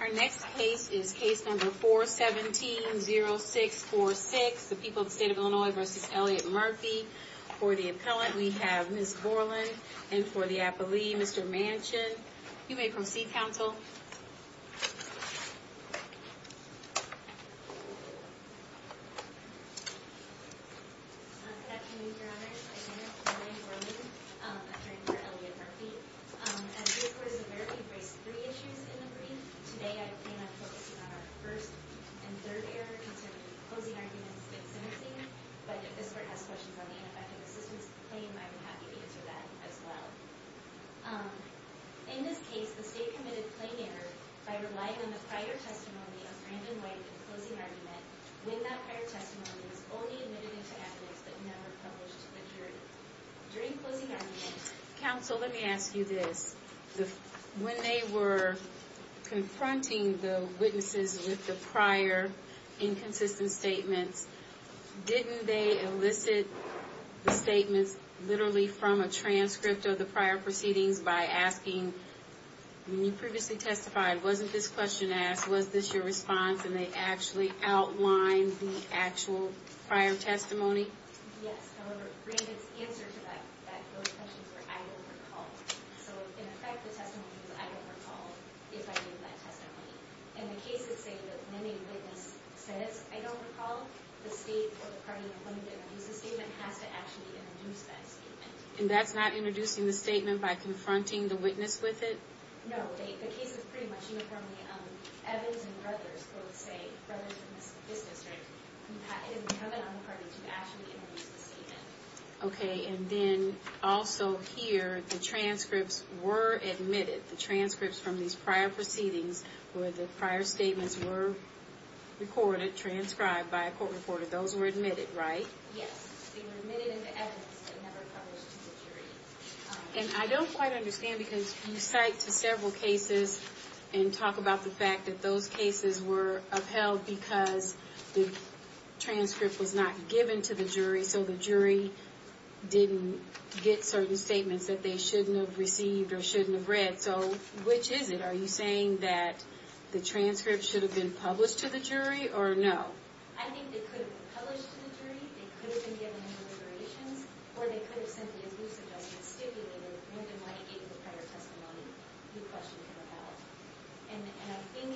Our next case is case number 417-0646, the people of the state of Illinois v. Elliot Murphy. For the appellant, we have Ms. Borland, and for the appellee, Mr. Manchin. Good afternoon, your honors. My name is Borland, appellant for Elliot Murphy. As state court is aware, we've raised three issues in the brief. Today, I plan on focusing on our first and third error concerning closing arguments in sentencing, but if this court has questions on the ineffective assistance claim, I would be happy to answer that as well. In this case, the state committed plain error by relying on the prior testimony of Brandon White in the closing argument, when that prior testimony was only admitted to appellants that never published the jury. During closing arguments... Counsel, let me ask you this. When they were confronting the witnesses with the prior inconsistent statements, didn't they elicit the statements literally from a transcript of the prior proceedings by asking, when you previously testified, wasn't this question asked, was this your response, and they actually outlined the actual prior testimony? Yes, however, Brandon's answer to those questions were, I don't recall. So, in effect, the testimony was, I don't recall if I gave that testimony. In the cases, say, that many witnesses said, I don't recall, the state or the party appointed to introduce the statement has to actually introduce that statement. And that's not introducing the statement by confronting the witness with it? No, the case is pretty much uniformly Evans and Brothers, both say, Brothers in this district, have been appointed to actually introduce the statement. Okay, and then, also here, the transcripts were admitted, the transcripts from these prior proceedings where the prior statements were recorded, transcribed by a court reporter. Those were admitted, right? Yes, they were admitted into Evans and never published to the jury. And I don't quite understand, because you cite to several cases and talk about the fact that those cases were upheld because the transcript was not given to the jury, so the jury didn't get certain statements that they shouldn't have received or shouldn't have read. So, which is it? Are you saying that the transcript should have been published to the jury, or no? I think they could have been published to the jury, they could have been given in deliberations, or they could have simply, as you suggested, stipulated when they might have given the prior testimony, the question came about. And I think,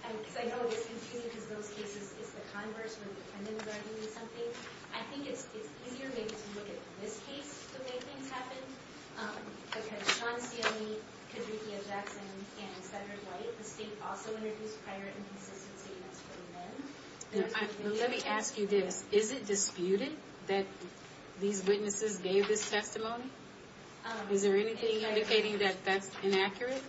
because I know it's confusing, because those cases, it's the converse, where the defendants are arguing something. I think it's easier maybe to look at this case to make things happen, because Sean Steeley, Kadrikia Jackson, and Senator White, the state also introduced prior inconsistency in its ruling then. Let me ask you this. Is it disputed that these witnesses gave this testimony? Is there anything indicating that that's inaccurate?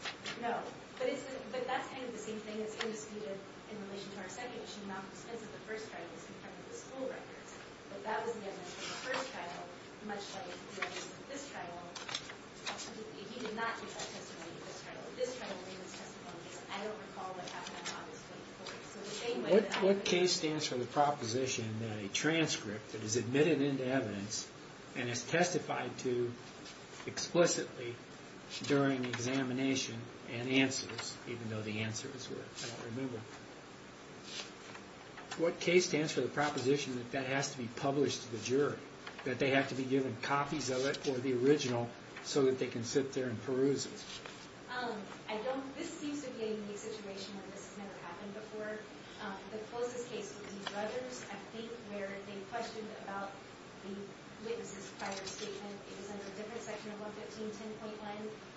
No, but that's kind of the same thing. It's indisputed in relation to our second issue, and that was because the first trial was in front of the school records. But that was the evidence for the first trial, much like this trial. He did not give that testimony to this trial. This trial gave his testimony, and I don't recall what happened on August 24th. What case stands for the proposition that a transcript that is admitted into evidence and is testified to explicitly during examination and answers, even though the answer is what I don't remember, what case stands for the proposition that that has to be published to the jury, that they have to be given copies of it or the original so that they can sit there and peruse it? This seems to be a unique situation where this has never happened before. The closest case would be Dredger's, I think, where they questioned about the witness's prior statement. It was under a different section of 115-10.1.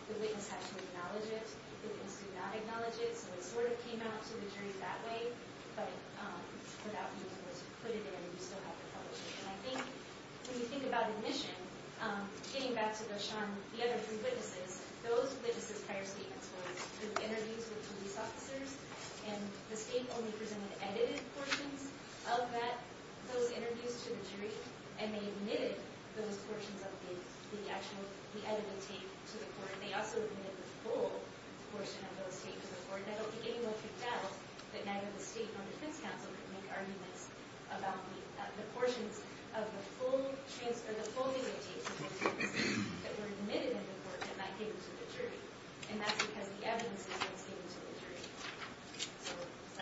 The witness had to acknowledge it. The witness did not acknowledge it, so it sort of came out to the jury that way, but without being able to put it in, you still have to publish it. And I think when you think about admission, getting back to the other three witnesses, those witnesses' prior statements were interviews with police officers, and the state only presented edited portions of those interviews to the jury, and they omitted those portions of the actual edited tape to the court. And they also omitted the full portion of those tapes to the court. And I don't think anyone picked out that neither the state nor the defense counsel could make arguments about the portions of the full transfer, the full edited tapes that were omitted in the court that might be given to the jury. And that's because the evidence was not given to the jury.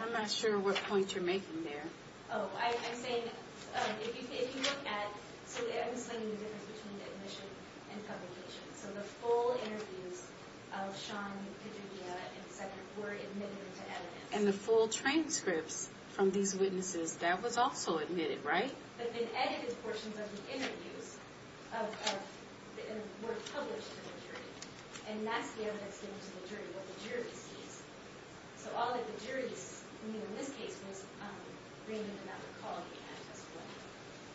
I'm not sure what point you're making there. Oh, I'm saying if you look at, so I'm just letting you know the difference between admission and publication. So the full interviews of Shawn, Padilla, etc. were admitted into evidence. And the full transcripts from these witnesses, that was also admitted, right? But the edited portions of the interviews were published to the jury, and that's the evidence given to the jury, what the jury sees. So all that the jury, in this case, was bringing them out of the call of the act as well.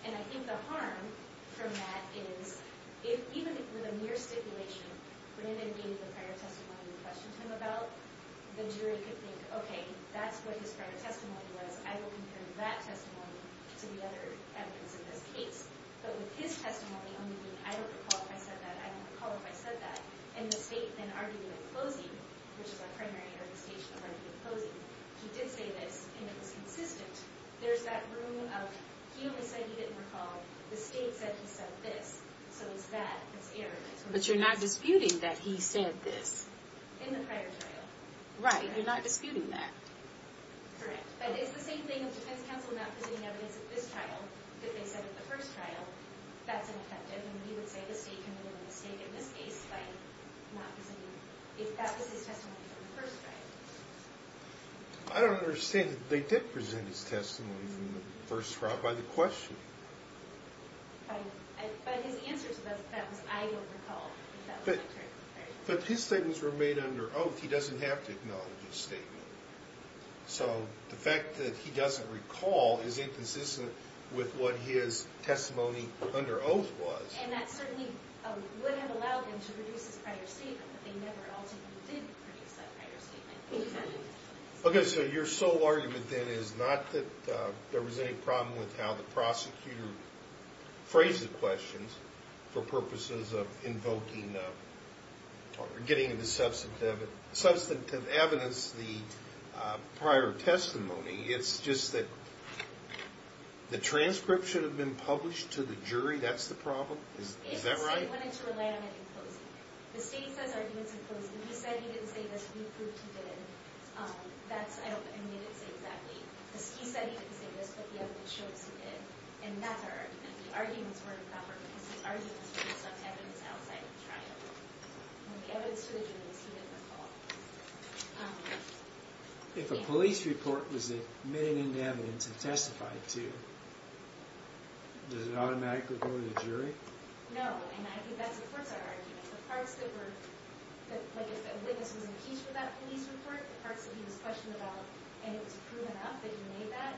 And I think the harm from that is, even with a mere stipulation, when they gave the prior testimony and questioned him about, the jury could think, okay, that's what his prior testimony was. I will compare that testimony to the other evidence in this case. But with his testimony only being, I don't recall if I said that. I don't recall if I said that. And the state then argued in closing, which is our primary interpretation of arguing in closing, he did say this, and it was consistent. There's that room of, he only said he didn't recall. The state said he said this. So it's that that's erroneous. But you're not disputing that he said this. In the prior trial. Right, you're not disputing that. Correct. But it's the same thing with defense counsel not presenting evidence at this trial, that they said at the first trial, that's ineffective. And we would say the state committed a mistake in this case by not presenting, if that was his testimony from the first trial. I don't understand that they did present his testimony from the first trial by the question. But his answer to that was, I don't recall. But his statements remain under oath. He doesn't have to acknowledge his statement. So the fact that he doesn't recall is inconsistent with what his testimony under oath was. And that certainly would have allowed him to produce his prior statement, but they never ultimately did produce that prior statement. Okay, so your sole argument, then, is not that there was any problem with how the prosecutor phrased the questions for purposes of invoking or getting the substantive evidence, the prior testimony. It's just that the transcript should have been published to the jury. That's the problem? Is that right? They wanted to rely on it in closing. The state says arguments in closing. He said he didn't say this. We proved he did. I don't think he did say exactly. He said he didn't say this, but the evidence shows he did. And that's our argument. The arguments weren't proper because the arguments were based on evidence outside of the trial. And the evidence to the jury was he didn't recall. No, and I think that supports our argument. The parts that were, like if a witness was in case for that police report, the parts that he was questioned about and it was proven out that he made that,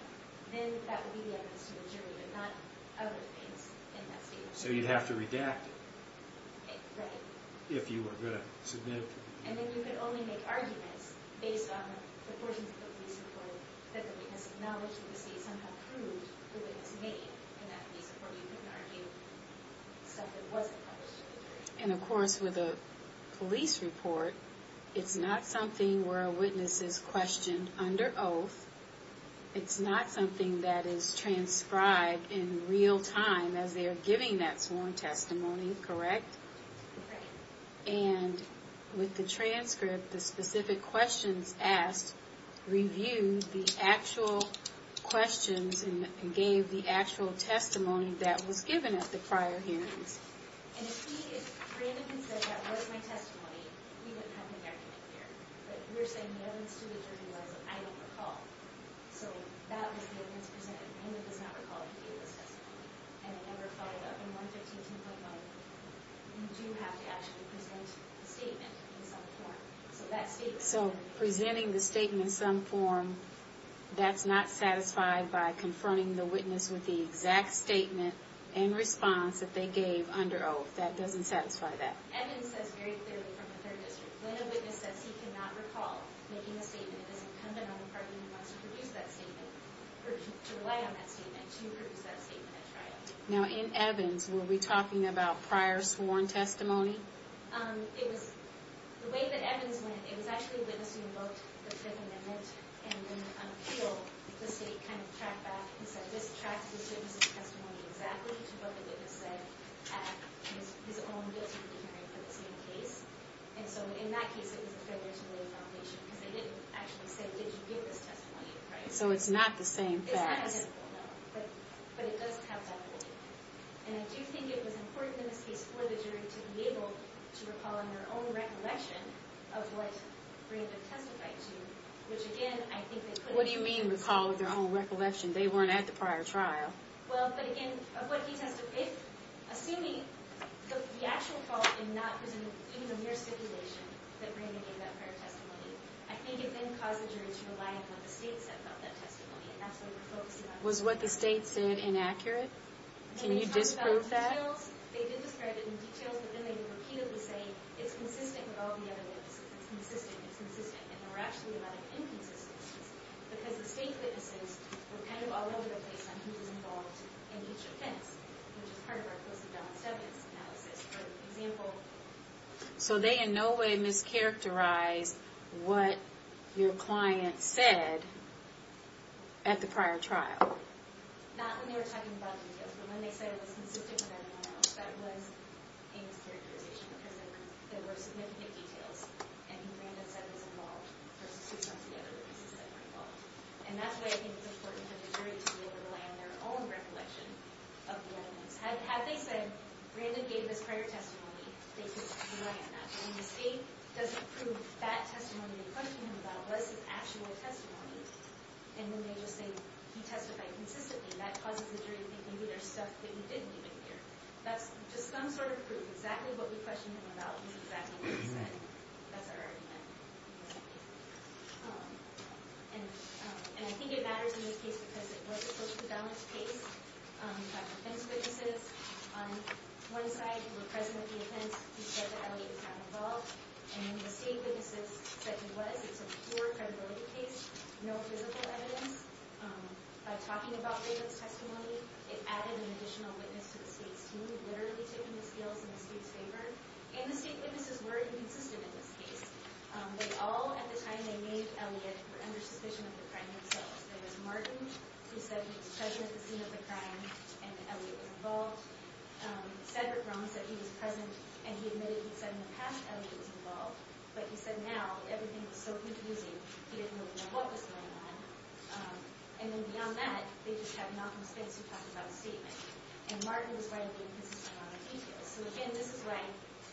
then that would be the evidence to the jury, but not other things in that statement. So you'd have to redact it. Right. If you were going to submit it to the jury. And then you could only make arguments based on the portions of the police report that the witness acknowledged that the state somehow proved the witness made in that police report. So it wasn't published to the jury. And, of course, with a police report, it's not something where a witness is questioned under oath. It's not something that is transcribed in real time as they are giving that sworn testimony. Correct? Correct. And with the transcript, the specific questions asked review the actual questions and gave the actual testimony that was given at the prior hearings. And if Brandon had said that was my testimony, we wouldn't have an argument here. But we're saying the evidence to the jury was that I don't recall. So that was the evidence presented. Brandon does not recall that he gave this testimony. And it never followed up. And 115.10, you do have to actually present the statement in some form. So presenting the statement in some form, that's not satisfied by confronting the witness with the exact statement and response that they gave under oath. That doesn't satisfy that. Evans says very clearly from the third district, when a witness says he cannot recall making a statement, it doesn't come down to the party who wants to produce that statement or to rely on that statement to produce that statement at trial. Now, in Evans, were we talking about prior sworn testimony? The way that Evans went, it was actually witnessing both the Fifth Amendment and the appeal, the state kind of tracked back and said, this tracks the witness's testimony exactly to what the witness said at his own district hearing for the same case. And so in that case, it was the Federal Jury Foundation. Because they didn't actually say, did you give this testimony? So it's not the same facts. It's not identical, no. But it does have that validity. And I do think it was important in this case for the jury to be able to recall in their own recollection of what Brandon testified to, which, again, I think they couldn't do. What do you mean recall with their own recollection? They weren't at the prior trial. Well, but again, of what he testified, assuming the actual fault was not even a mere stipulation that Brandon gave that prior testimony, I think it then caused the jury to rely on what the state said about that testimony. And that's what we're focusing on. Was what the state said inaccurate? Can you disprove that? They did describe it in details, but then they would repeatedly say, it's consistent with all the other witnesses. It's consistent, it's consistent. And there were actually a lot of inconsistencies, because the state witnesses were kind of all over the place on who was involved in each offense, which is part of our post-endowment evidence analysis. For example... So they in no way mischaracterized what your client said at the prior trial? Not when they were talking about details, but when they said it was consistent with everyone else, that was a mischaracterization, because there were significant details, and who Brandon said was involved, versus who some of the other witnesses said were involved. And that's why I think it's important for the jury to be able to rely on their own recollection of the evidence. Had they said, Brandon gave his prior testimony, they could rely on that. When the state doesn't prove that testimony they're questioning him about was his actual testimony, and then they just say, he testified consistently, that causes the jury to think, maybe there's stuff that he didn't even hear. That's just some sort of proof. Exactly what we questioned him about was exactly what he said. That's our argument. And I think it matters in this case because it was a post-endowment case. You have defense witnesses on one side who were present at the offense, who said that Elliot was not involved. And the state witnesses said he was. It's a poor credibility case. No physical evidence. By talking about David's testimony, it added an additional witness to the state's team, literally taking the scales in the state's favor. And the state witnesses were inconsistent in this case. They all, at the time they made Elliot, were under suspicion of the crime themselves. There was Martin, who said he was present at the scene of the crime and that Elliot was involved. Cedric Brown said he was present and he admitted he said in the past Elliot was involved. But he said now, everything was so confusing, he didn't really know what was going on. And then beyond that, they just had Malcolm Spence who talked about his statement. And Martin was right, they were inconsistent on the details. So again, this is why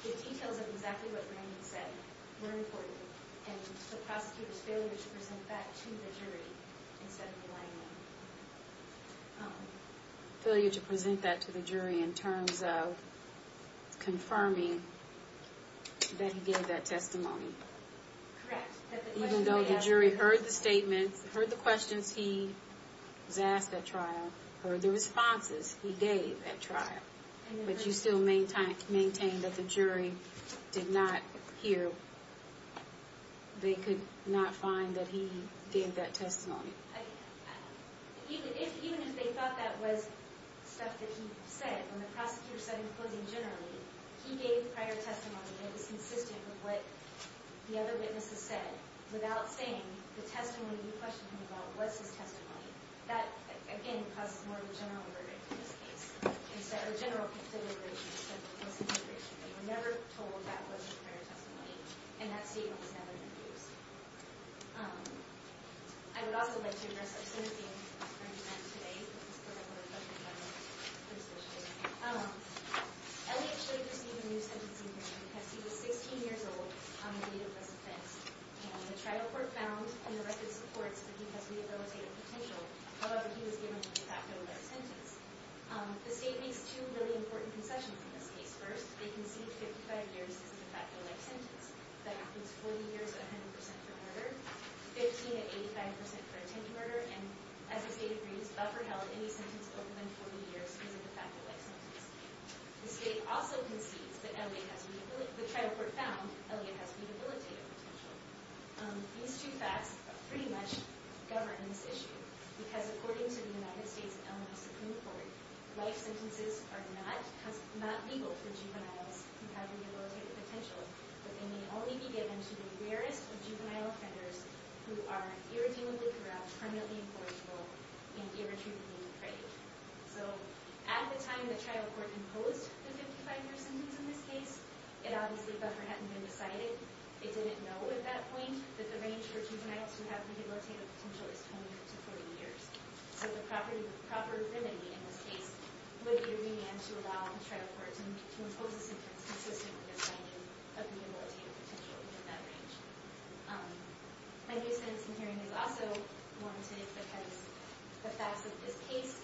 the details of exactly what Raymond said were important. And the prosecutor's failure to present that to the jury instead of to Raymond. Failure to present that to the jury in terms of confirming that he gave that testimony. Correct. Even though the jury heard the statements, heard the questions he was asked at trial, heard the responses he gave at trial. But you still maintain that the jury did not hear, they could not find that he gave that testimony. Even if they thought that was stuff that he said, when the prosecutor said he was closing generally, he gave prior testimony that was consistent with what the other witnesses said. Without saying the testimony you questioned him about was his testimony. That, again, causes more of a general verdict in this case. Instead of a general consideration, it was a general conviction. They were never told that was his prior testimony. And that statement was never introduced. I would also like to address our sympathy for him today. Elliot should have received a new sentencing hearing because he was 16 years old on the date of this offense. And the trial court found in the record supports that he has rehabilitative potential, however, he was given a de facto life sentence. The state makes two really important concessions in this case. First, they concede 55 years as a de facto life sentence. That includes 40 years at 100% for murder, 15 at 85% for attempted murder, and as the state agrees, Buffer held any sentence over than 40 years is a de facto life sentence. The state also concedes that Elliot has rehabilitative, the trial court found Elliot has rehabilitative potential. These two facts pretty much govern this issue because according to the United States Elmhurst Supreme Court, life sentences are not legal for juveniles who have rehabilitative potential, but they may only be given to the rarest of juvenile offenders who are irredeemably corrupt, permanently imploratable, and irretrievably uncredited. So at the time the trial court imposed the 55-year sentence in this case, it obviously, Buffer hadn't been decided. They didn't know at that point that the range for juveniles who have rehabilitative potential is 20 to 40 years. So the proper remedy in this case would be to demand to allow the trial court to impose a sentence consistent with their finding of rehabilitative potential within that range. A nuisance in hearing is also warranted because the facts of this case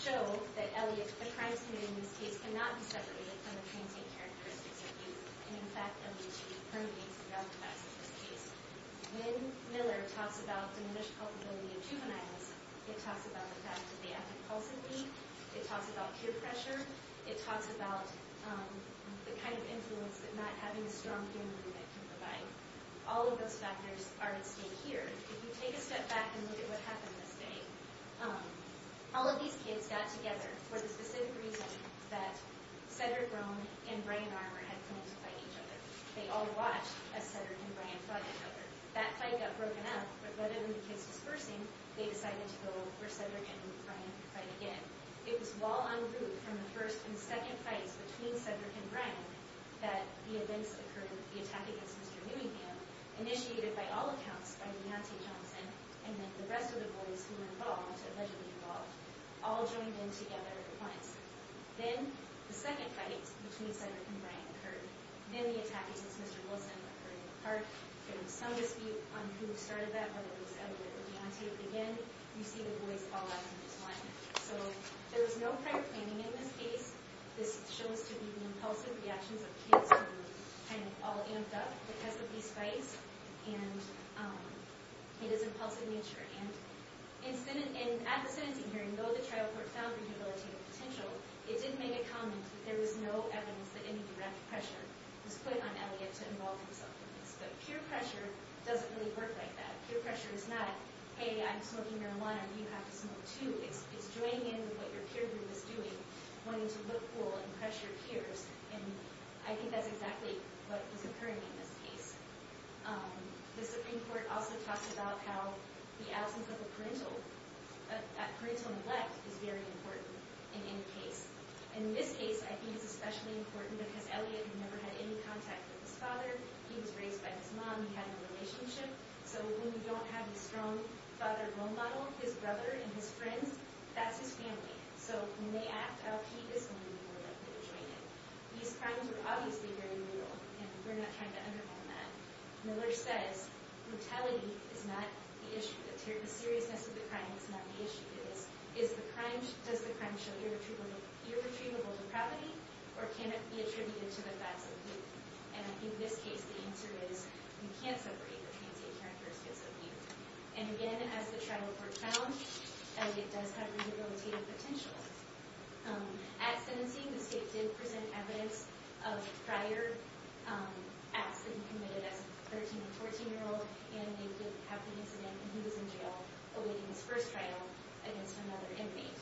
show that Elliot, the crimes committed in this case, cannot be separated from the transient characteristics of youth. And, in fact, Elliot should be permitted to be authorized in this case. When Miller talks about diminished culpability of juveniles, it talks about the fact that they act impulsively, it talks about peer pressure, it talks about the kind of influence that not having a strong peer movement can provide. All of those factors are at stake here. If you take a step back and look at what happened this day, all of these kids got together for the specific reason that Cedric Brown and Brian Armour had come in to fight each other. They all watched as Cedric and Brian fought each other. That fight got broken up, but let alone the kids dispersing, they decided to go where Cedric and Brian could fight again. It was while en route from the first and second fights between Cedric and Brian that the attack against Mr. Newingham, initiated by all accounts by Nancy Johnson, and then the rest of the boys who were involved, allegedly involved, all joined in together at once. Then the second fight between Cedric and Brian occurred. Then the attack against Mr. Wilson occurred in the park. There was some dispute on who started that, whether it was Edward or Deontay, but again, you see the boys fall out from this line. So there was no prior planning in this case. This shows to be the impulsive reactions of kids who were kind of all amped up because of these fights, and it is impulsive in nature. And at the sentencing hearing, though the trial court found rehabilitative potential, it didn't make a comment that there was no evidence that any direct pressure was put on Elliot to involve himself in this. But peer pressure doesn't really work like that. Peer pressure is not, hey, I'm smoking marijuana, you have to smoke too. It's joining in with what your peer group is doing, wanting to look cool and pressure peers, and I think that's exactly what was occurring in this case. The Supreme Court also talks about how the absence of a parental neglect is very important in any case. And in this case, I think it's especially important because Elliot had never had any contact with his father, he was raised by his mom, he had no relationship, so when you don't have the strong father role model, his brother and his friends, that's his family. So when they act out, he is going to be more likely to join in. These crimes were obviously very brutal, and we're not trying to undermine that. Miller says brutality is not the issue, the seriousness of the crime is not the issue. Does the crime show irretrievable depravity, or can it be attributed to the facts of youth? And I think in this case, the answer is you can't separate the transient characteristics of youth. And again, as the trial report found, Elliot does have rehabilitative potential. At sentencing, the state did present evidence of prior acts that he committed as a 13- and 14-year-old, and they did have the incident when he was in jail, awaiting his first trial against another inmate.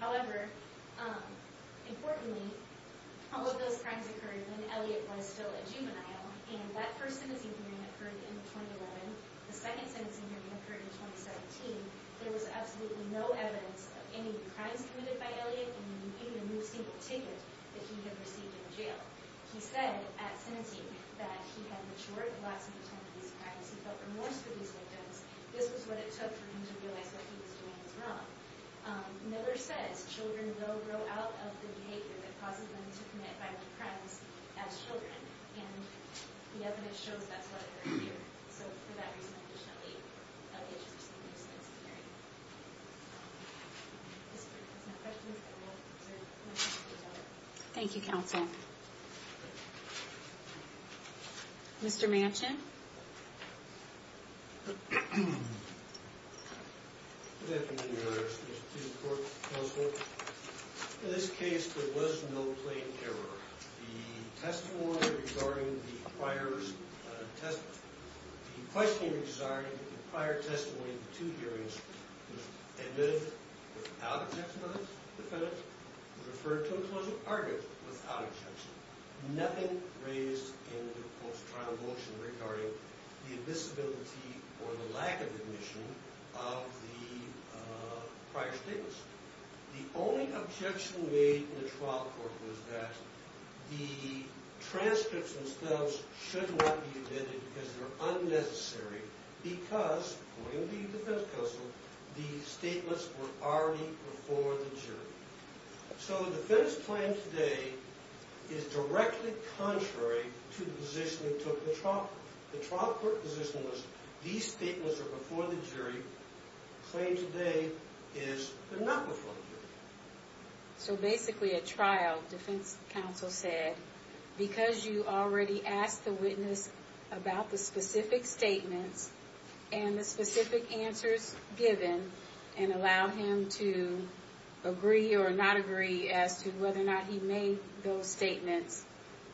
However, importantly, all of those crimes occurred when Elliot was still a juvenile, and that first sentencing hearing occurred in 2011. The second sentencing hearing occurred in 2017. There was absolutely no evidence of any crimes committed by Elliot, and he didn't even receive a ticket that he had received in jail. He said at sentencing that he had matured the last few times that he was in practice. He felt remorse for these victims. This was what it took for him to realize what he was doing was wrong. Miller says children grow out of the behavior that causes them to commit violent crimes as children, and the evidence shows that's what occurred here. So for that reason, I think Elliot should receive a sentencing hearing. Thank you. Thank you, counsel. Mr. Manchin? Good afternoon, Your Honor, Mr. Chief of Court, counsel. In this case, there was no plain error. The testimony regarding the prior testimony, the questioning regarding the prior testimony in the two hearings was admitted without objection by the defendant, was referred to a closer partner without objection. Nothing raised in the post-trial motion regarding the admissibility or the lack of admission of the prior statements. The only objection made in the trial court was that the transcripts themselves should not be admitted because they're unnecessary because, according to the defense counsel, the statements were already before the jury. So the defense claim today is directly contrary to the position that took the trial court position was these statements are before the jury. The claim today is they're not before the jury. So basically, at trial, defense counsel said, because you already asked the witness about the specific statements and the specific answers given and allowed him to agree or not agree as to whether or not he made those statements,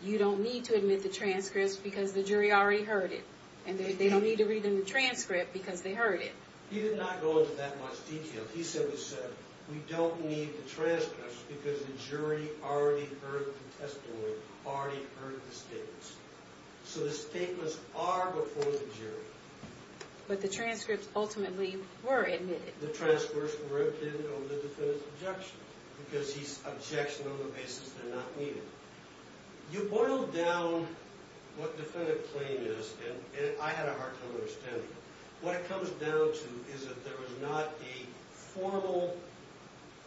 you don't need to admit the transcripts because the jury already heard it. And they don't need to read in the transcript because they heard it. He did not go into that much detail. He simply said, we don't need the transcripts because the jury already heard the testimony, already heard the statements. So the statements are before the jury. But the transcripts ultimately were admitted. The transcripts were admitted over the defendant's objection because he's objecting on the basis they're not needed. You boil down what the defendant claim is, and I had a hard time understanding it. What it comes down to is that there was not a formal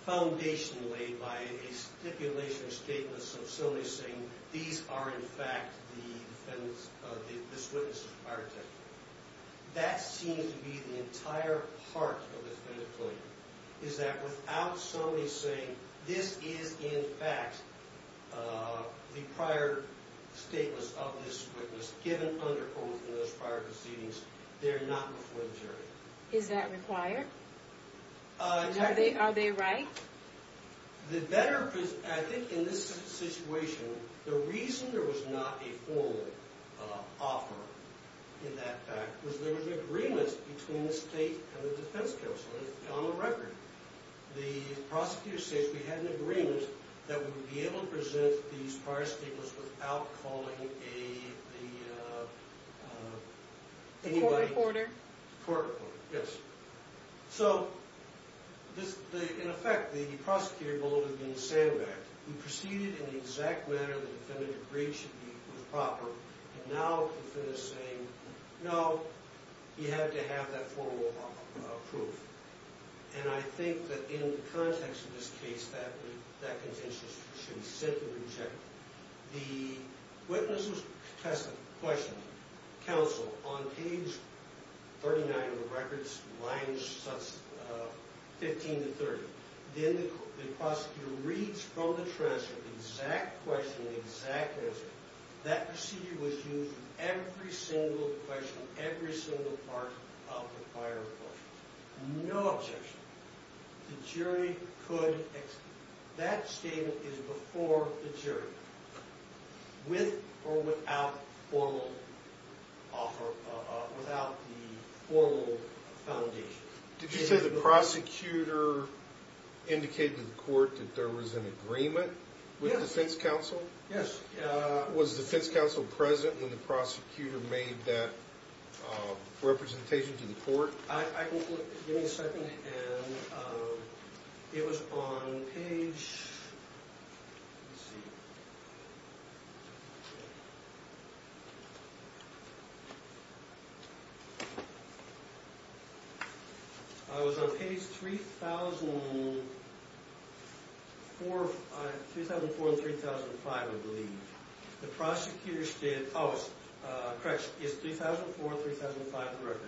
foundation laid by a stipulation or statement of somebody saying, these are, in fact, the witness's prior testimony. That seems to be the entire heart of the defendant claim, is that without somebody saying, this is, in fact, the prior statement of this witness given under oath in those prior proceedings, they're not before the jury. Is that required? Are they right? I think in this situation, the reason there was not a formal offer in that fact was there was an agreement between the state and the defense counsel on the record. The prosecutor says we had an agreement that we would be able to present these prior statements without calling a court reporter. Yes. So, in effect, the prosecutor believed it would be the same way. We proceeded in the exact manner the defendant agreed should be proper, and now the defendant is saying, no, you had to have that formal proof. And I think that in the context of this case, that contention should be simply rejected. The witness was tested, questioned, counseled on page 39 of the records, lines 15 to 30. Then the prosecutor reads from the transcript the exact question and the exact answer. That procedure was used in every single question, in every single part of the prior proceedings. No objection. The jury could, that statement is before the jury, with or without formal offer, without the formal foundation. Did you say the prosecutor indicated to the court that there was an agreement with defense counsel? Yes. Was defense counsel present when the prosecutor made that representation to the court? I can give you a second hand. It was on page... Oh, correct. It's 3004 and 3005 of the record.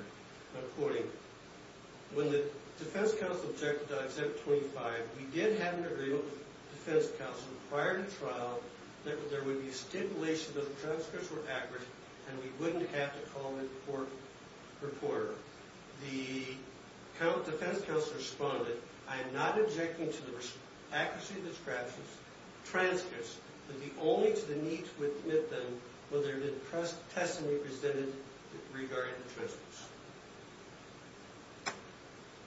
I'm quoting. When the defense counsel objected on exempt 25, we did have an agreement with defense counsel prior to trial that there would be stipulation that the transcripts were accurate and we wouldn't have to call the court reporter. The defense counsel responded, I am not objecting to the accuracy of the transcripts but be only to the need to admit them whether they're testimony presented regarding the transcripts.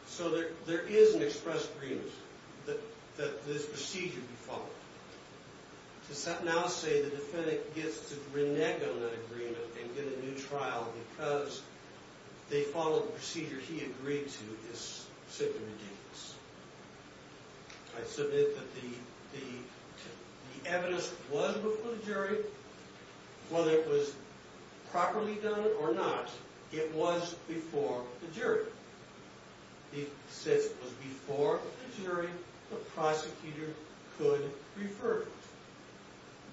So there is an express agreement that this procedure be followed. To now say the defendant gets to renege on that agreement and get a new trial because they followed the procedure he agreed to is simply ridiculous. I submit that the evidence was before the jury. Whether it was properly done or not, it was before the jury. Since it was before the jury, the prosecutor could refer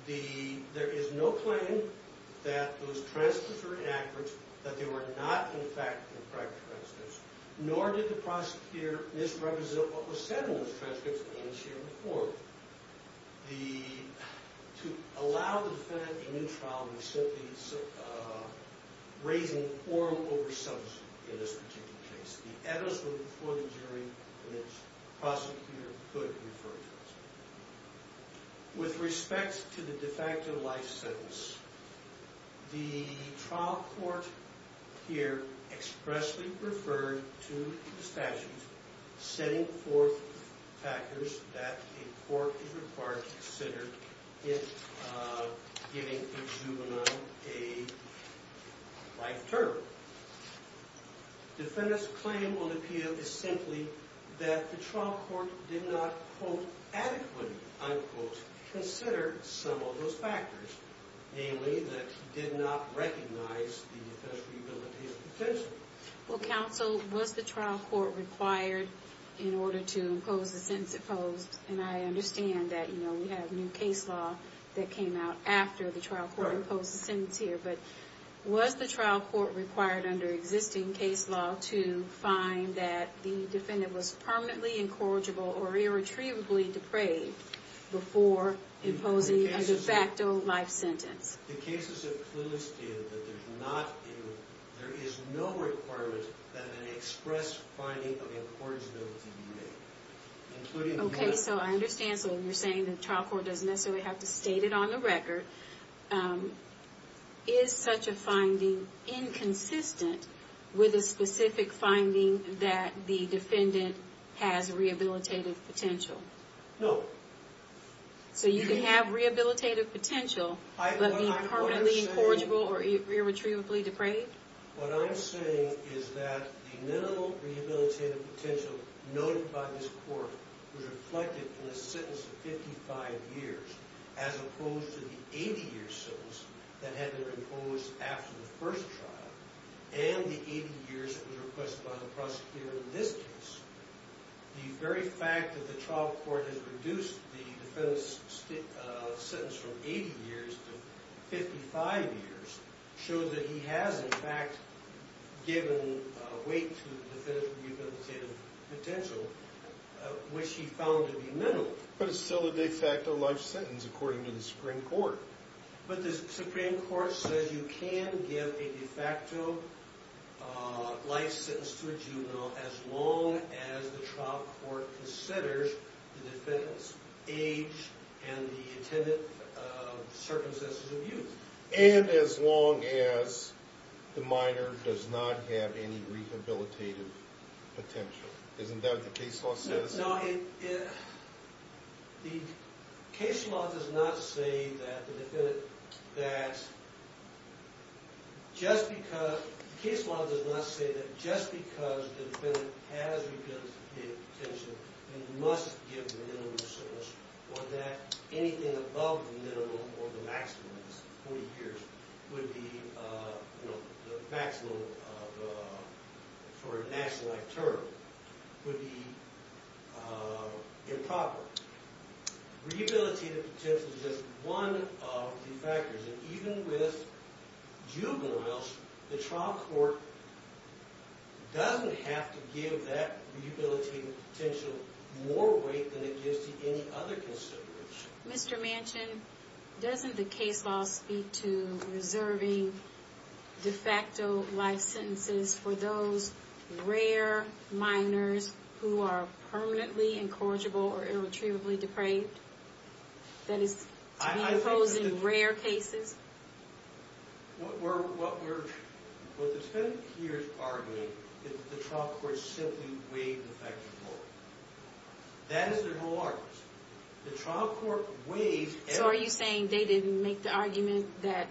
it. There is no claim that those transcripts were inaccurate, that they were not, in fact, correct transcripts, nor did the prosecutor misrepresent what was said in those transcripts in this hearing before. To allow the defendant a new trial was simply raising the quorum over substance in this particular case. The evidence was before the jury in which the prosecutor could refer transcripts. With respect to the de facto life sentence, the trial court here expressly referred to the statute setting forth factors that a court is required to consider in giving a juvenile a life term. Defendant's claim will appeal is simply that the trial court did not adequately consider some of those factors, namely that he did not recognize the defensory ability of the defense. Counsel, was the trial court required in order to impose the sentence it posed? I understand that we have new case law that came out after the trial court imposed the sentence here, but was the trial court required under existing case law to find that the defendant was permanently incorrigible or irretrievably depraved before imposing a de facto life sentence? The cases have clearly stated that there is no requirement that an express finding of incorrigibility be made. Okay, so I understand, so you're saying the trial court doesn't necessarily have to state it on the record. Is such a finding inconsistent with a specific finding that the defendant has rehabilitative potential? No. So you can have rehabilitative potential, but be permanently incorrigible or irretrievably depraved? What I'm saying is that the minimal rehabilitative potential noted by this court was reflected in the sentence of 55 years, as opposed to the 80-year sentence that had been imposed after the first trial and the 80 years that was requested by the prosecutor in this case. The very fact that the trial court has reduced the defendant's sentence from 80 years to 55 years shows that he has in fact given weight to the defendant's rehabilitative potential which he found to be minimal. But it's still a de facto life sentence according to the Supreme Court. But the Supreme Court says you can give a de facto life sentence to a juvenile as long as the trial court considers the defendant's age and the intended circumstances of use. And as long as the minor does not have any rehabilitative potential. Isn't that what the case law says? No, the case law does not say that just because the defendant has rehabilitative potential and must give the minimum sentence or that anything above the minimum or the maximum of 40 years would be, you know, the maximum for a national life term would be improper. Rehabilitative potential is just one of the factors. And even with juveniles, the trial court doesn't have to give that rehabilitative potential more weight than it gives to any other consideration. Mr. Manchin, doesn't the case law speak to reserving de facto life sentences for those rare minors who are permanently incorrigible or irretrievably depraved? That is, to be imposed in rare cases? What the defendants here are arguing is that the trial court simply weighed the facts more. That is their whole argument. The trial court weighs... So are you saying they didn't make the argument that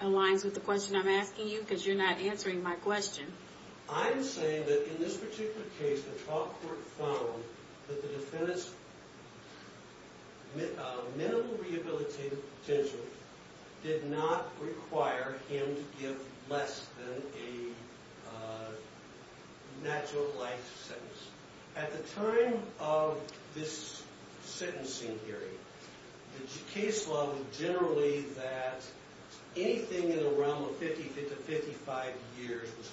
aligns with the question I'm asking you? Because you're not answering my question. I'm saying that in this particular case, the trial court found that the defendant's minimal rehabilitative potential did not require him to give less than a natural life sentence. At the time of this sentencing hearing, the case law was generally that anything in the realm of 55 to 55 years was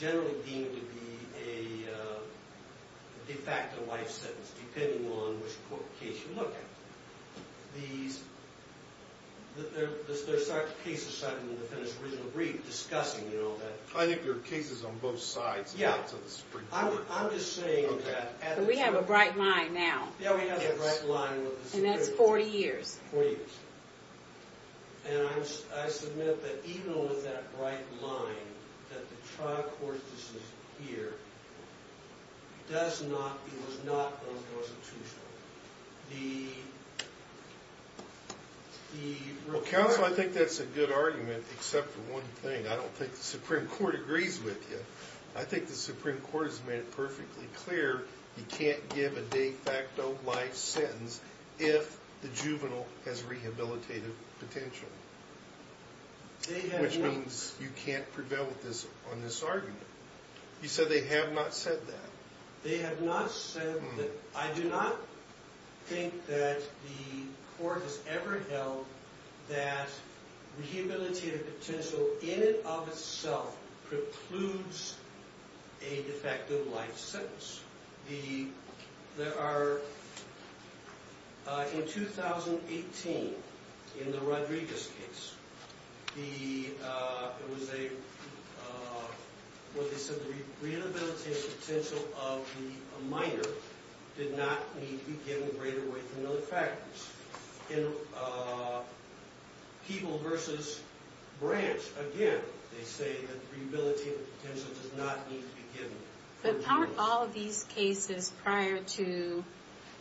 generally deemed to be a de facto life sentence, depending on what case you look at. There are cases cited in the defendant's original brief discussing that. I think there are cases on both sides of the Supreme Court. I'm just saying that... We have a bright line now. Yeah, we have a bright line with the Supreme Court. And that's 40 years. And I submit that even with that bright line, that the trial court decision here was not unconstitutional. Counsel, I think that's a good argument, except for one thing. I don't think the Supreme Court agrees with you. I think the Supreme Court has made it perfectly clear you can't give a de facto life sentence if the juvenile has rehabilitative potential, which means you can't prevail on this argument. You said they have not said that. They have not said that. I do not think that the court has ever held that rehabilitative potential in and of itself precludes a de facto life sentence. There are... In 2018, in the Rodriguez case, it was a... What they said, the rehabilitative potential of the minor did not need to be given greater weight than other factors. People versus branch, again, they say that rehabilitative potential does not need to be given greater weight. But aren't all of these cases prior to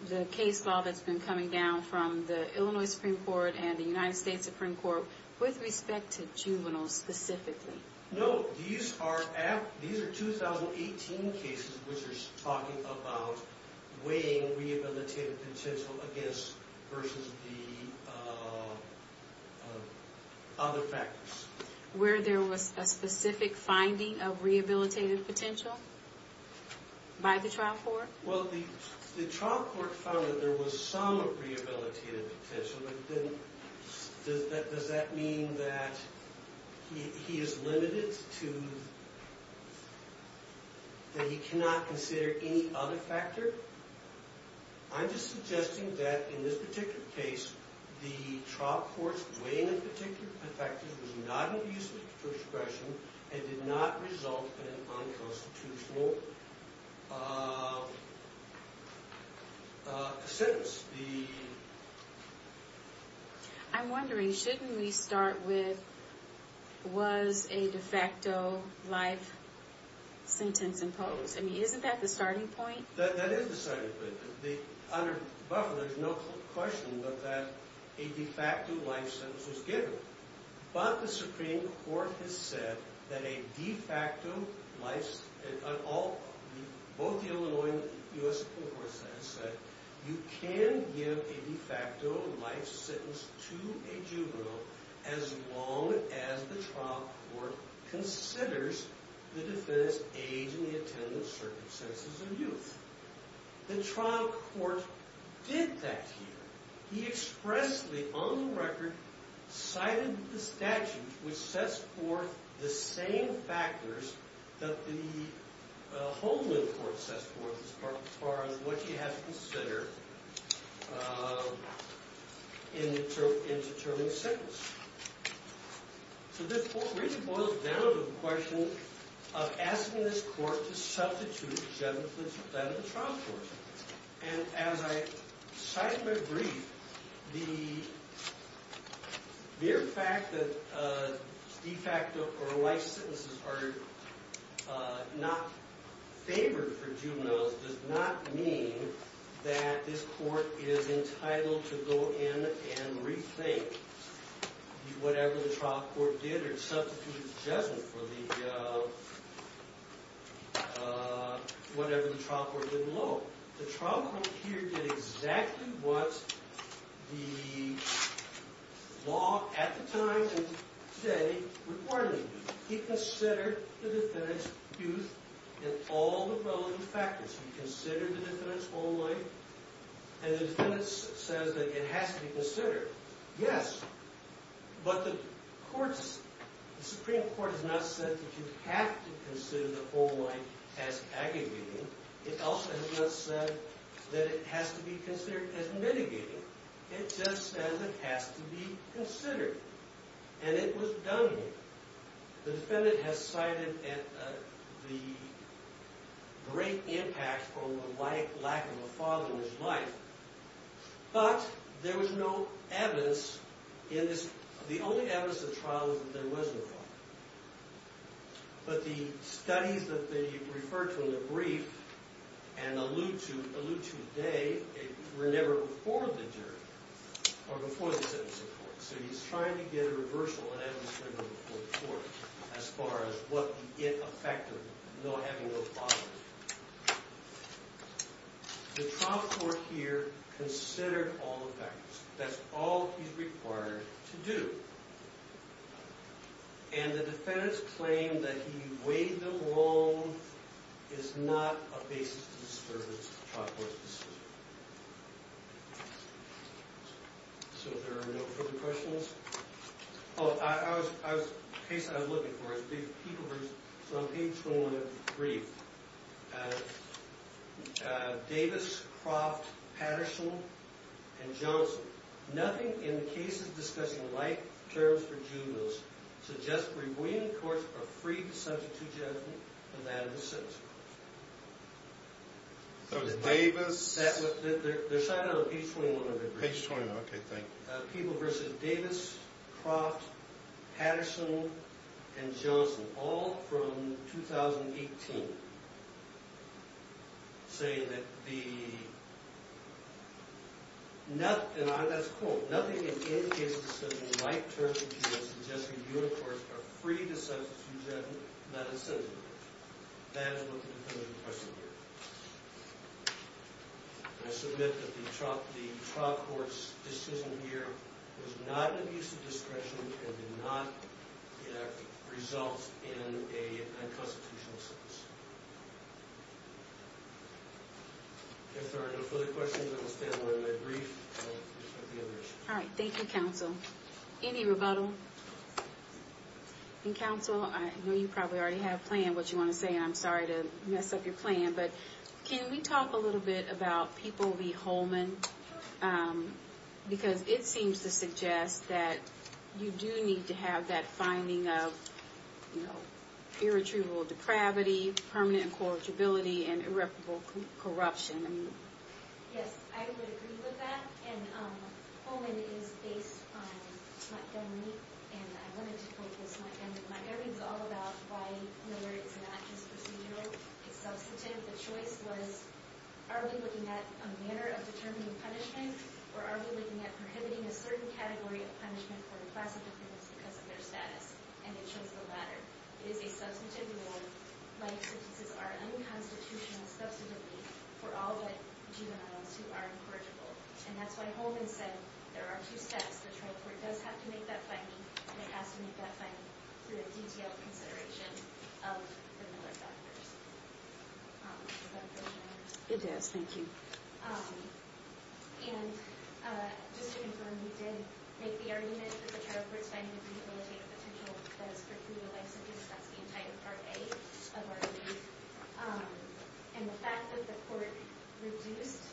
the case law that's been coming down from the Illinois Supreme Court and the United States Supreme Court with respect to juveniles specifically? No, these are 2018 cases which are talking about weighing rehabilitative potential against versus the other factors. Where there was a specific finding of rehabilitative potential by the trial court? Well, the trial court found that there was some rehabilitative potential, but does that mean that he is limited to... That he cannot consider any other factor? I'm just suggesting that in this particular case, the trial court's weighing of particular factors was not an abuse of discretion and did not result in an unconstitutional sentence. I'm wondering, shouldn't we start with, was a de facto life sentence imposed? Isn't that the starting point? That is the starting point. Under Buffalo, there's no question but that a de facto life sentence was given. But the Supreme Court has said that a de facto life sentence, both the Illinois and the U.S. Supreme Court have said you can give a de facto life sentence to a juvenile as long as the trial court considers the defendant's age and the attendance circumstances of youth. The trial court did that here. He expressly, on the record, cited the statute which sets forth the same factors that the Homeland Court sets forth as far as what you have to consider in determining a sentence. So this really boils down to the question of asking this court to substitute the defendant in the trial court. And as I cited in my brief, the mere fact that de facto or life sentences are not favored for juveniles does not mean that this court is entitled to go in and rethink whatever the trial court did or substitute the judgment for whatever the trial court did below. The trial court here did exactly what the law at the time and today would want it to do. He considered the defendant's youth in all the relevant factors. He considered the defendant's whole life and the defendant says that it has to be considered. Yes, but the Supreme Court has not said that you have to consider the whole life as aggregating. It also has not said that it has to be considered as mitigating. It just says it has to be considered. And it was done. The defendant has cited the great impact from the lack of a father in his life. But there was no evidence in this. The only evidence in the trial is that there was no father. But the studies that they referred to in the brief and allude to today were never before the jury or before the sentencing court. So he's trying to get a reversal in evidence for the court as far as what the effect of not having a father is. The trial court here considered all the factors. That's all he's required to do. And the defendant's claim that he weighed them along is not a basis to disturb the trial court's decision. So there are no further questions? Oh, the case that I was looking for is on page 21 of the brief. Davis, Croft, Patterson, and Johnson. Nothing in the case is discussing life terms for juveniles. Suggests that we in the courts are free to substitute judgment for that of the sentencing court. So it's Davis. They're signing on page 21 of the brief. Page 21, okay, thank you. People versus Davis, Croft, Patterson, and Johnson. All from 2018. Saying that the... Nothing in any case is discussing life terms for juveniles. Suggests that you in the courts are free to substitute judgment for that of the sentencing court. That is what the conclusion of the question here is. I submit that the trial court's decision here was not an abuse of discretion and did not result in a unconstitutional sentence. If there are no further questions, I will stand by my brief. All right, thank you, counsel. Any rebuttal? Counsel, I know you probably already have planned what you want to say, and I'm sorry to mess up your plan. But can we talk a little bit about people v. Holman? Because it seems to suggest that you do need to have that finding of irretrievable depravity, permanent incorruptibility, and irreparable corruption. Yes, I would agree with that. And Holman is based on Montgomery, and I wanted to quote this Montgomery. Montgomery is all about why murder is not just procedural. It's substantive. The choice was, are we looking at a manner of determining punishment, or are we looking at prohibiting a certain category of punishment for a class of offenders because of their status? And it shows the latter. It is a substantive reward. Life sentences are unconstitutional, substantively, for all but juveniles who are incorrigible. And that's why Holman said there are two steps. The trial court does have to make that finding, and it has to make that finding through a detailed consideration of the Miller factors. Does that make sense? It does. Thank you. And just to confirm, you did make the argument that the trial court's finding of rehabilitative potential does preclude a life sentence. That's the entire Part A of our brief. And the fact that the court reduced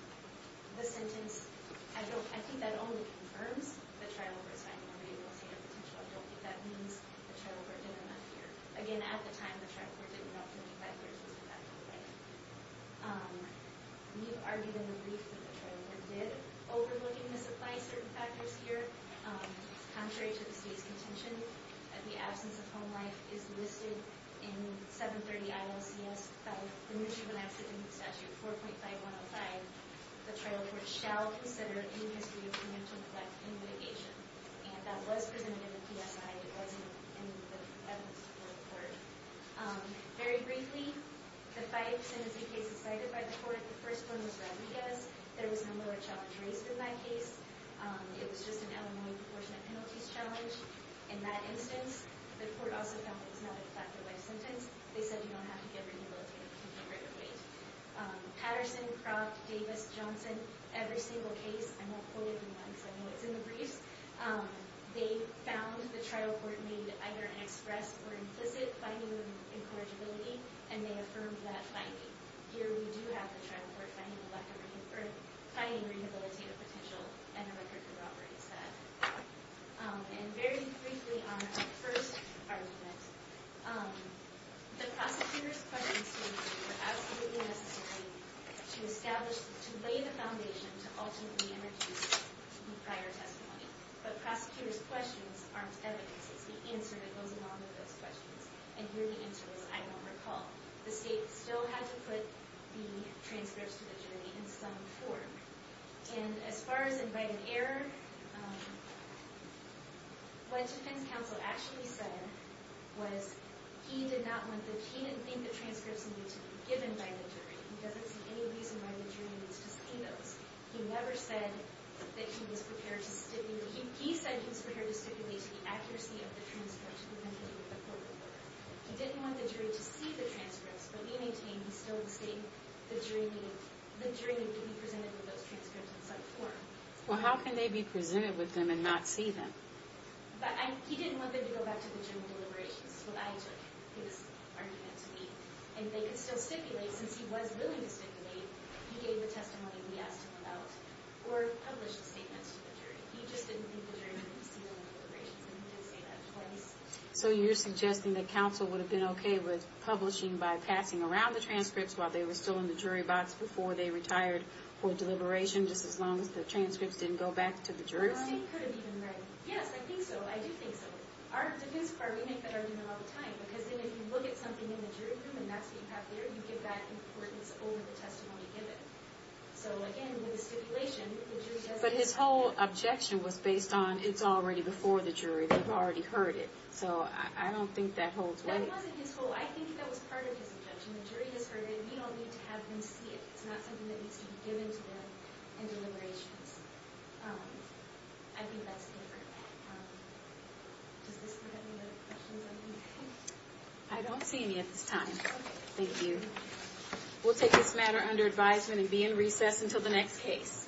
the sentence, I think that only confirms the trial court's finding of rehabilitative potential. I don't think that means the trial court did enough here. Again, at the time, the trial court did enough to make that clear, so it's a fact of life. You've argued in the brief that the trial court did overlook and misapply certain factors here. Contrary to the State's contention, the absence of home life is listed in 730 ILCS by the New Juvenile Accident Statute 4.5105. The trial court shall consider any history of preemptive neglect in litigation. And that was presented in the PSI. It wasn't in the evidence support report. Very briefly, the five sentencing cases cited by the court, the first one was Rodriguez. There was no lower charge raised in that case. It was just an Illinois proportionate penalties challenge. In that instance, the court also found that it was not a factor of life sentence. They said you don't have to get rehabilitative potential right away. Patterson, Croft, Davis, Johnson, every single case, I won't quote anyone because I know it's in the briefs, they found the trial court made either an express or implicit finding of incorrigibility, and they affirmed that finding. Here we do have the trial court finding a lack of or finding rehabilitative potential and a record for robbery instead. And very briefly on the first argument, the prosecutor's questions to me were absolutely necessary to establish, to lay the foundation to ultimately introduce prior testimony. But prosecutor's questions aren't evidence. It's the answer that goes along with those questions. And here the answer is I don't recall. The state still had to put the transcripts to the jury in some form. And as far as invited error, what defense counsel actually said was he did not want the, he didn't think the transcripts needed to be given by the jury. He doesn't see any reason why the jury needs to see those. He never said that he was prepared to stipulate. He said he was prepared to stipulate the accuracy of the transcript to the court. He didn't want the jury to see the transcripts, but he maintained he still would state the jury need, the jury need to be presented with those transcripts in some form. Well, how can they be presented with them and not see them? But he didn't want them to go back to the general deliberations. That's what I took his argument to be. And they could still stipulate, since he was willing to stipulate. He gave the testimony and we asked him about, or published the statements to the jury. He just didn't think the jury needed to see the deliberations, and he did say that twice. So you're suggesting that counsel would have been okay with publishing by passing around the transcripts while they were still in the jury box before they retired for deliberation, just as long as the transcripts didn't go back to the jury? Yes, I think so. I do think so. To his part, we make that argument all the time, because then if you look at something in the jury room and that's what you have there, you give that importance over the testimony given. But his whole objection was based on, it's already before the jury, they've already heard it. So I don't think that holds weight. That wasn't his whole, I think that was part of his objection. The jury has heard it, we don't need to have them see it. It's not something that needs to be given to them in deliberations. I think that's different. Does this put any other questions on your mind? I don't see any at this time. Thank you. We'll take this matter under advisement and be in recess until the next case.